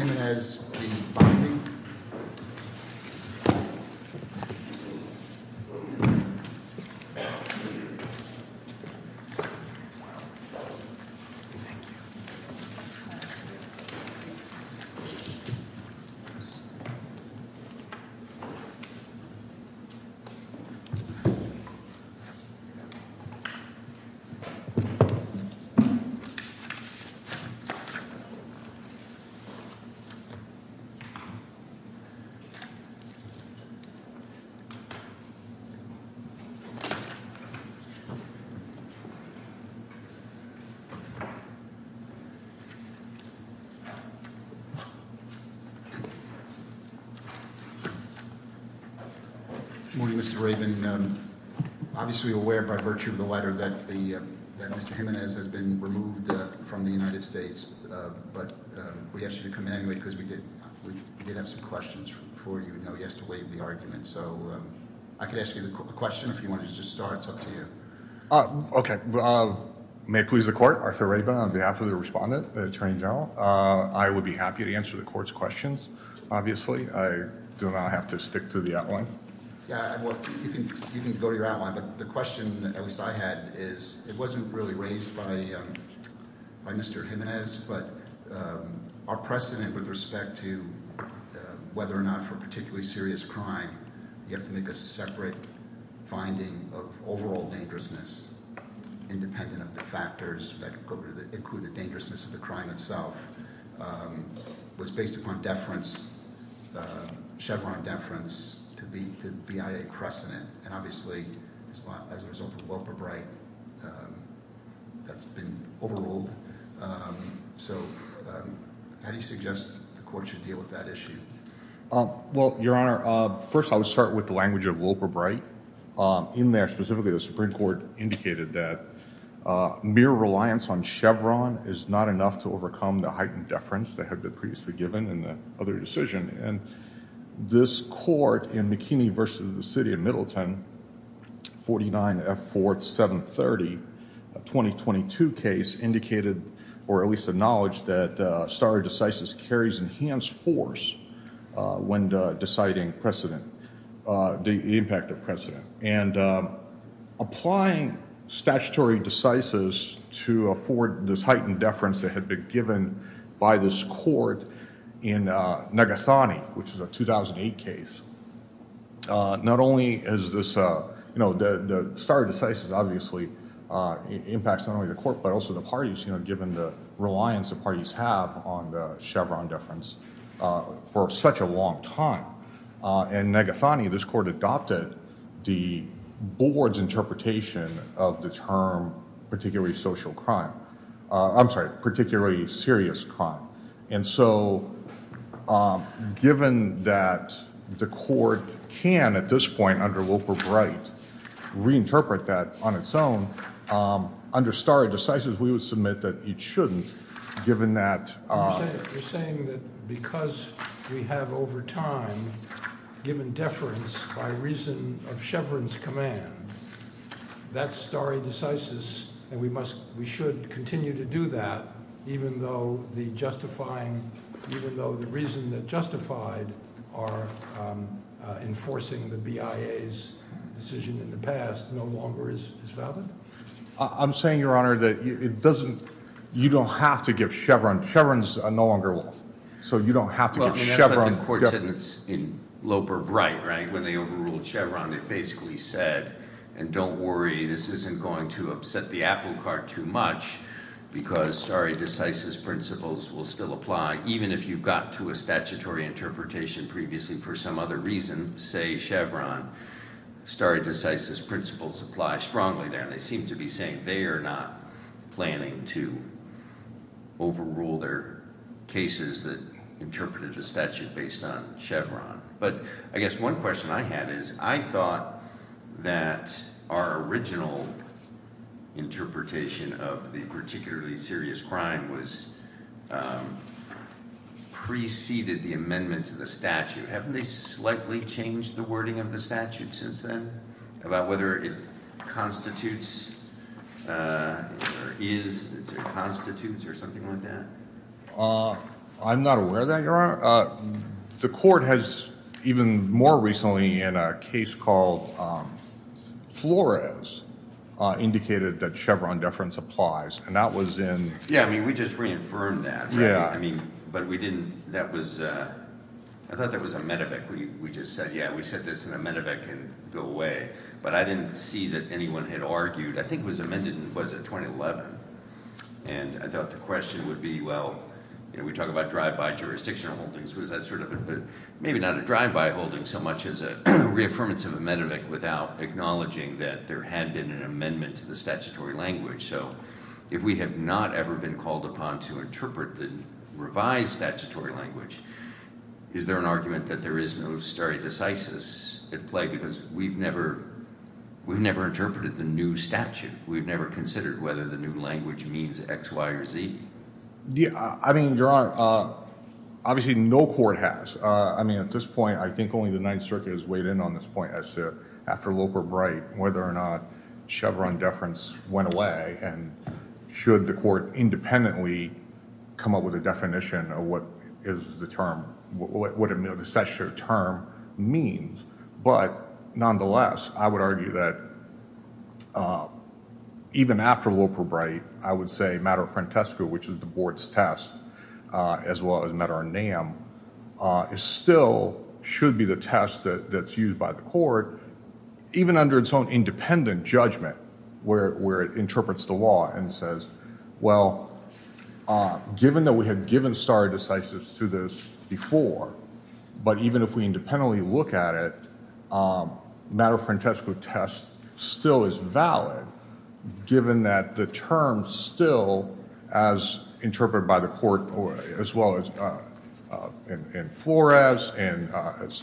V. Bondi Morning, Mr. Rabin. Obviously aware by virtue of the letter that Mr. Jimenez has been removed from the United States, but we asked you to come in anyway because we did have some questions for you. Now he has to waive the argument, so I could ask you the question if you want to just start. It's up to you. Okay. May it please the Court, Arthur Rabin on behalf of the Respondent, the Attorney General. I would be happy to answer the Court's questions, obviously. I do not have to stick to the outline. Yeah, well, you can go to your outline, but the question at least I had is, it wasn't really raised by Mr. Jimenez, but our precedent with respect to whether or not for particularly serious crime you have to make a separate finding of overall dangerousness, independent of the factors that include the dangerousness of the crime itself, was based upon deference, Chevron deference to the VIA precedent. And obviously as a result of Wilbur Bright, that's been overruled. So how do you suggest the Court should deal with that issue? Well, Your Honor, first I would start with the language of Wilbur Bright. In there, specifically, the Supreme Court indicated that mere reliance on Chevron is not enough to overcome the heightened deference that had been previously given in the other decision. And this court in McKinney v. The City of Middleton, 49F4730, a 2022 case, indicated, or at least acknowledged, that stare decisis carries enhanced force when deciding precedent, the impact of precedent. And applying statutory decisis to afford this heightened deference that had been given by this court in Nagasani, which is a 2008 case, not only is this, you know, the stare decisis obviously impacts not only the court, but also the parties, you know, given the reliance the parties have on the Chevron deference for such a long time. In Nagasani, this court adopted the board's interpretation of the term particularly social crime. I'm sorry, particularly serious crime. And so, given that the court can, at this point, under Wilbur Bright, reinterpret that on its own, under stare decisis, we would submit that it shouldn't, given that... You're saying that because we have, over time, given deference by reason of Chevron's command, that stare decisis, and we must, we should continue to do that, even though the justifying, even though the reason that justified our enforcing the BIA's decision in the past no longer is valid? I'm saying, Your Honor, that it doesn't, you don't have to give Chevron, Chevron's no longer law. So you don't have to give Chevron... Well, I mean, that's what the court said in Wilbur Bright, right? When they overruled Chevron, it basically said, and don't worry, this isn't going to upset the apple cart too much, because stare decisis principles will still apply, even if you got to a statutory interpretation previously for some other reason, say Chevron, stare decisis principles apply strongly there. And they seem to be saying they are not planning to overrule their cases that interpreted a statute based on Chevron. But I guess one question I had is, I thought that our original interpretation of the particularly serious crime was preceded the amendment to the statute. Haven't they slightly changed the wording of the statute since then? About whether it constitutes or is, it constitutes or something like that? I'm not aware of that, Your Honor. The court has, even more recently in a case called Flores, indicated that Chevron deference applies, and that was in... Yeah, I mean, we just reaffirmed that. I mean, but we didn't, that was, I thought that was a medivac. We just said, yeah, we said this, and a medivac can go away. But I didn't see that anyone had argued. I think it was amended in, was it, 2011. And I thought the question would be, well, you know, we talk about drive-by jurisdiction holdings. Was that sort of, maybe not a drive-by holding so much as a reaffirmance of a medivac without acknowledging that there had been an amendment to the statutory language. So, if we have not ever been called upon to interpret the revised statutory language, is there an argument that there is no stare decisis at play? Because we've never, we've never interpreted the new statute. We've never considered whether the new language means X, Y, or Z. Yeah, I mean, Your Honor, obviously no court has. I mean, at this point, I think only the Ninth Circuit has weighed in on this point as to, after Loper-Bright, whether or not Chevron deference went away. And should the court independently come up with a definition of what is the term, what the statutory term means. But, nonetheless, I would argue that even after Loper-Bright, I would say matter of frantesco, which is the Board's test, as well as matter of NAM, it still should be the test that's used by the court, even under its own independent judgment, where it interprets the law and says, well, given that we had given stare decisis to this before, but even if we independently look at it, matter of frantesco test still is valid, given that the term still, as interpreted by the court, as well as in Flores, and as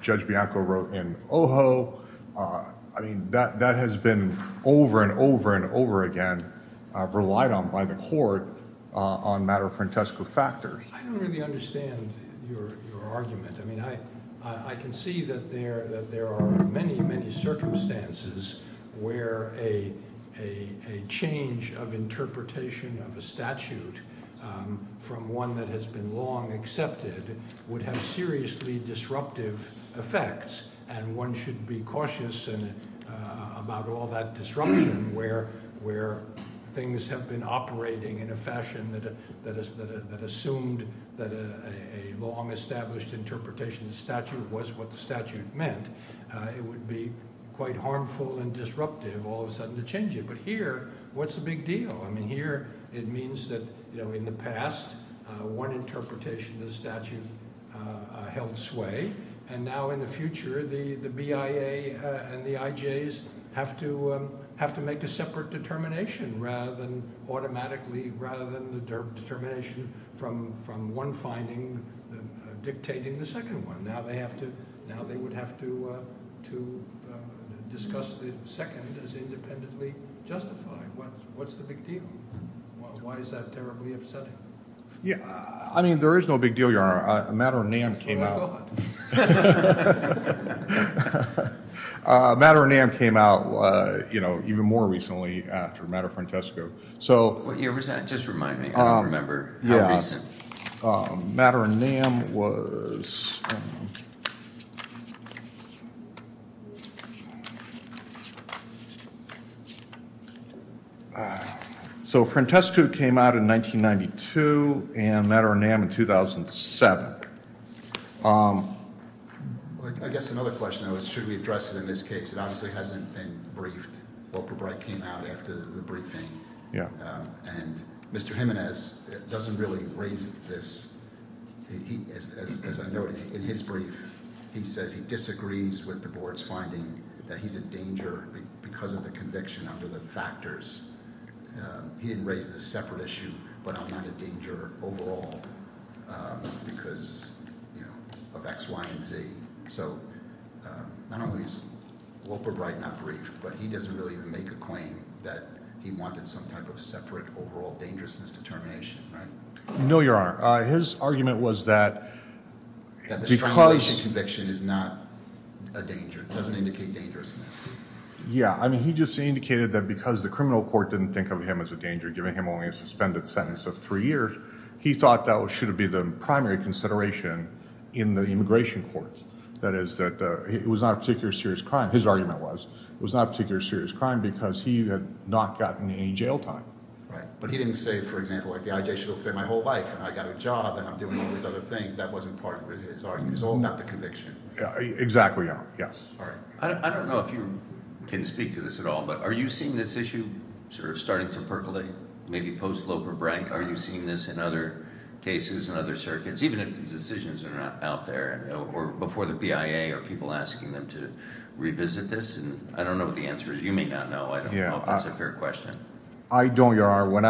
Judge Bianco wrote in Ojo, I mean, that has been over and over and over again relied on by the court on matter of frantesco factors. I don't really understand your argument. I mean, I can see that there are many, many circumstances where a change of interpretation of a statute from one that has been long accepted would have seriously disruptive effects, and one should be cautious about all that disruption, where things have been operating in a fashion that assumed that a long established interpretation of the statute was what the statute meant. It would be quite harmful and disruptive all of a sudden to change it. But here, what's the big deal? I mean, here it means that in the past, one interpretation of the statute held sway, and now in the future, the BIA and the IJs have to make a separate determination automatically, rather than the determination from one finding dictating the second one. Now they would have to discuss the second as independently justified. What's the big deal? Why is that terribly upsetting? I mean, there is no big deal, Your Honor. Matter of NAM came out even more recently after matter of frantesco. What year was that? Just remind me. I don't remember how recent. Matter of NAM was... So frantesco came out in 1992, and matter of NAM in 2007. I guess another question, though, is should we address it in this case? It obviously hasn't been briefed. Wilbur Bright came out after the briefing. And Mr. Jimenez doesn't really raise this. As I noted, he didn't raise it. In his brief, he says he disagrees with the board's finding that he's in danger because of the conviction under the factors. He didn't raise the separate issue, but I'm not in danger overall because of X, Y, and Z. So not only is Wilbur Bright not briefed, but he doesn't really make a claim that he wanted some type of separate overall dangerousness determination. No, Your Honor. His argument was that because... The conviction is not a danger. It doesn't indicate dangerousness. Yeah, I mean, he just indicated that because the criminal court didn't think of him as a danger, giving him only a suspended sentence of three years, he thought that should be the primary consideration in the immigration courts. That is that it was not a particular serious crime, his argument was. It was not a particular serious crime because he had not gotten any jail time. But he didn't say, for example, the IJ should have been my whole life, and I got a job, and I'm doing all these other things. That wasn't part of his argument. It was all about the conviction. Exactly, Your Honor. Yes. I don't know if you can speak to this at all, but are you seeing this issue sort of starting to percolate, maybe post-Loper Bright? Are you seeing this in other cases, in other circuits, even if the decisions are not out there? Or before the BIA, are people asking them to revisit this? I don't know what the answer is. You may not know. I don't know if that's a fair question. I don't, Your Honor. When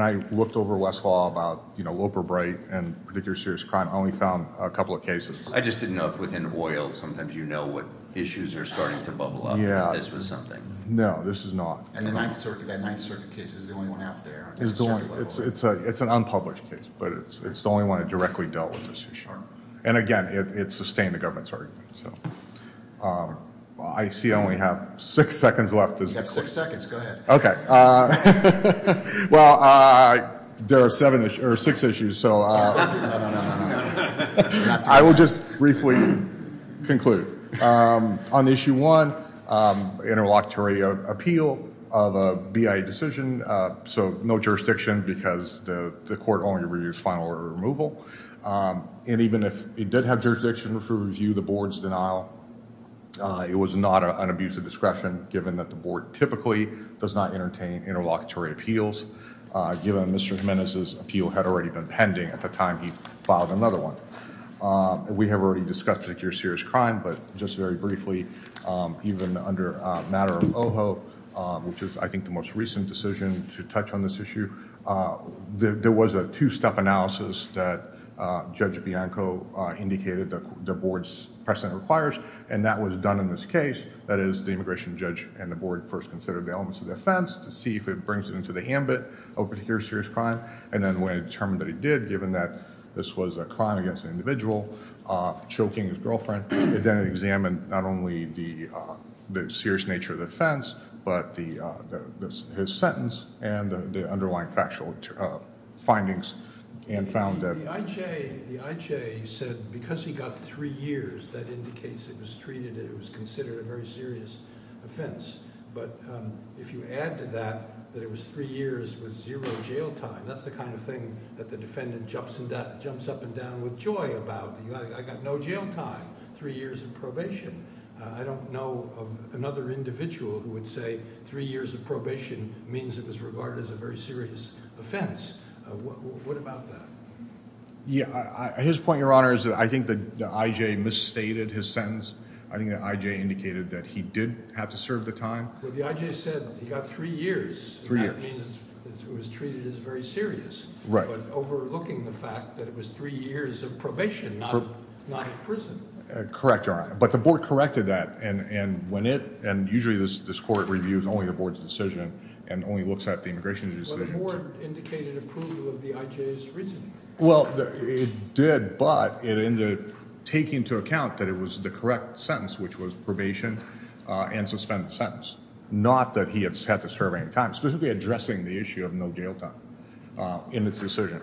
I looked over Westlaw about Loper Bright and particular serious crime, I only found a couple of cases. I just didn't know if within OIL sometimes you know what issues are starting to bubble up. Yeah. If this was something. No, this is not. And the Ninth Circuit case is the only one out there. It's an unpublished case, but it's the only one that directly dealt with this issue. And again, it sustained the government's argument. I see I only have six seconds left. You have six seconds. Go ahead. Okay. Well, there are six issues, so I will just briefly conclude. On issue one, interlocutory appeal of a BIA decision. So, no jurisdiction because the court only reviews final order removal. And even if it did have jurisdiction to review the board's denial, It was not an abuse of discretion, given that the board typically does not entertain interlocutory appeals. Given Mr. Jimenez's appeal had already been pending at the time he filed another one. We have already discussed particular serious crime, but just very briefly, even under a matter of OHO, which is, I think, the most recent decision to touch on this issue. There was a two-step analysis that Judge Bianco indicated the board's precedent requires. And that was done in this case. That is, the immigration judge and the board first considered the elements of the offense to see if it brings it into the ambit of a particular serious crime. And then when it determined that it did, given that this was a crime against an individual choking his girlfriend, it then examined not only the serious nature of the offense, but his sentence and the underlying factual findings and found that... The IJ said because he got three years, that indicates it was treated and it was considered a very serious offense. But if you add to that, that it was three years with zero jail time, that's the kind of thing that the defendant jumps up and down with joy about. I got no jail time, three years of probation. I don't know of another individual who would say three years of probation means it was regarded as a very serious offense. What about that? Yeah, his point, Your Honor, is that I think the IJ misstated his sentence. I think the IJ indicated that he did have to serve the time. Well, the IJ said he got three years. Three years. And that means it was treated as very serious. Right. But overlooking the fact that it was three years of probation, not of prison. Correct, Your Honor. But the board corrected that and when it... and usually this court reviews only the board's decision and only looks at the immigration decision. But the board indicated approval of the IJ's reasoning. Well, it did, but it ended up taking into account that it was the correct sentence, which was probation and suspended sentence. Not that he had to serve any time. Specifically addressing the issue of no jail time in this decision.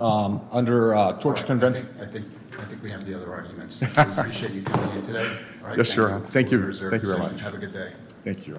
Under torture convention... I think we have the other arguments. I appreciate you coming in today. Yes, Your Honor. Thank you very much. Have a good day. Thank you, Your Honor.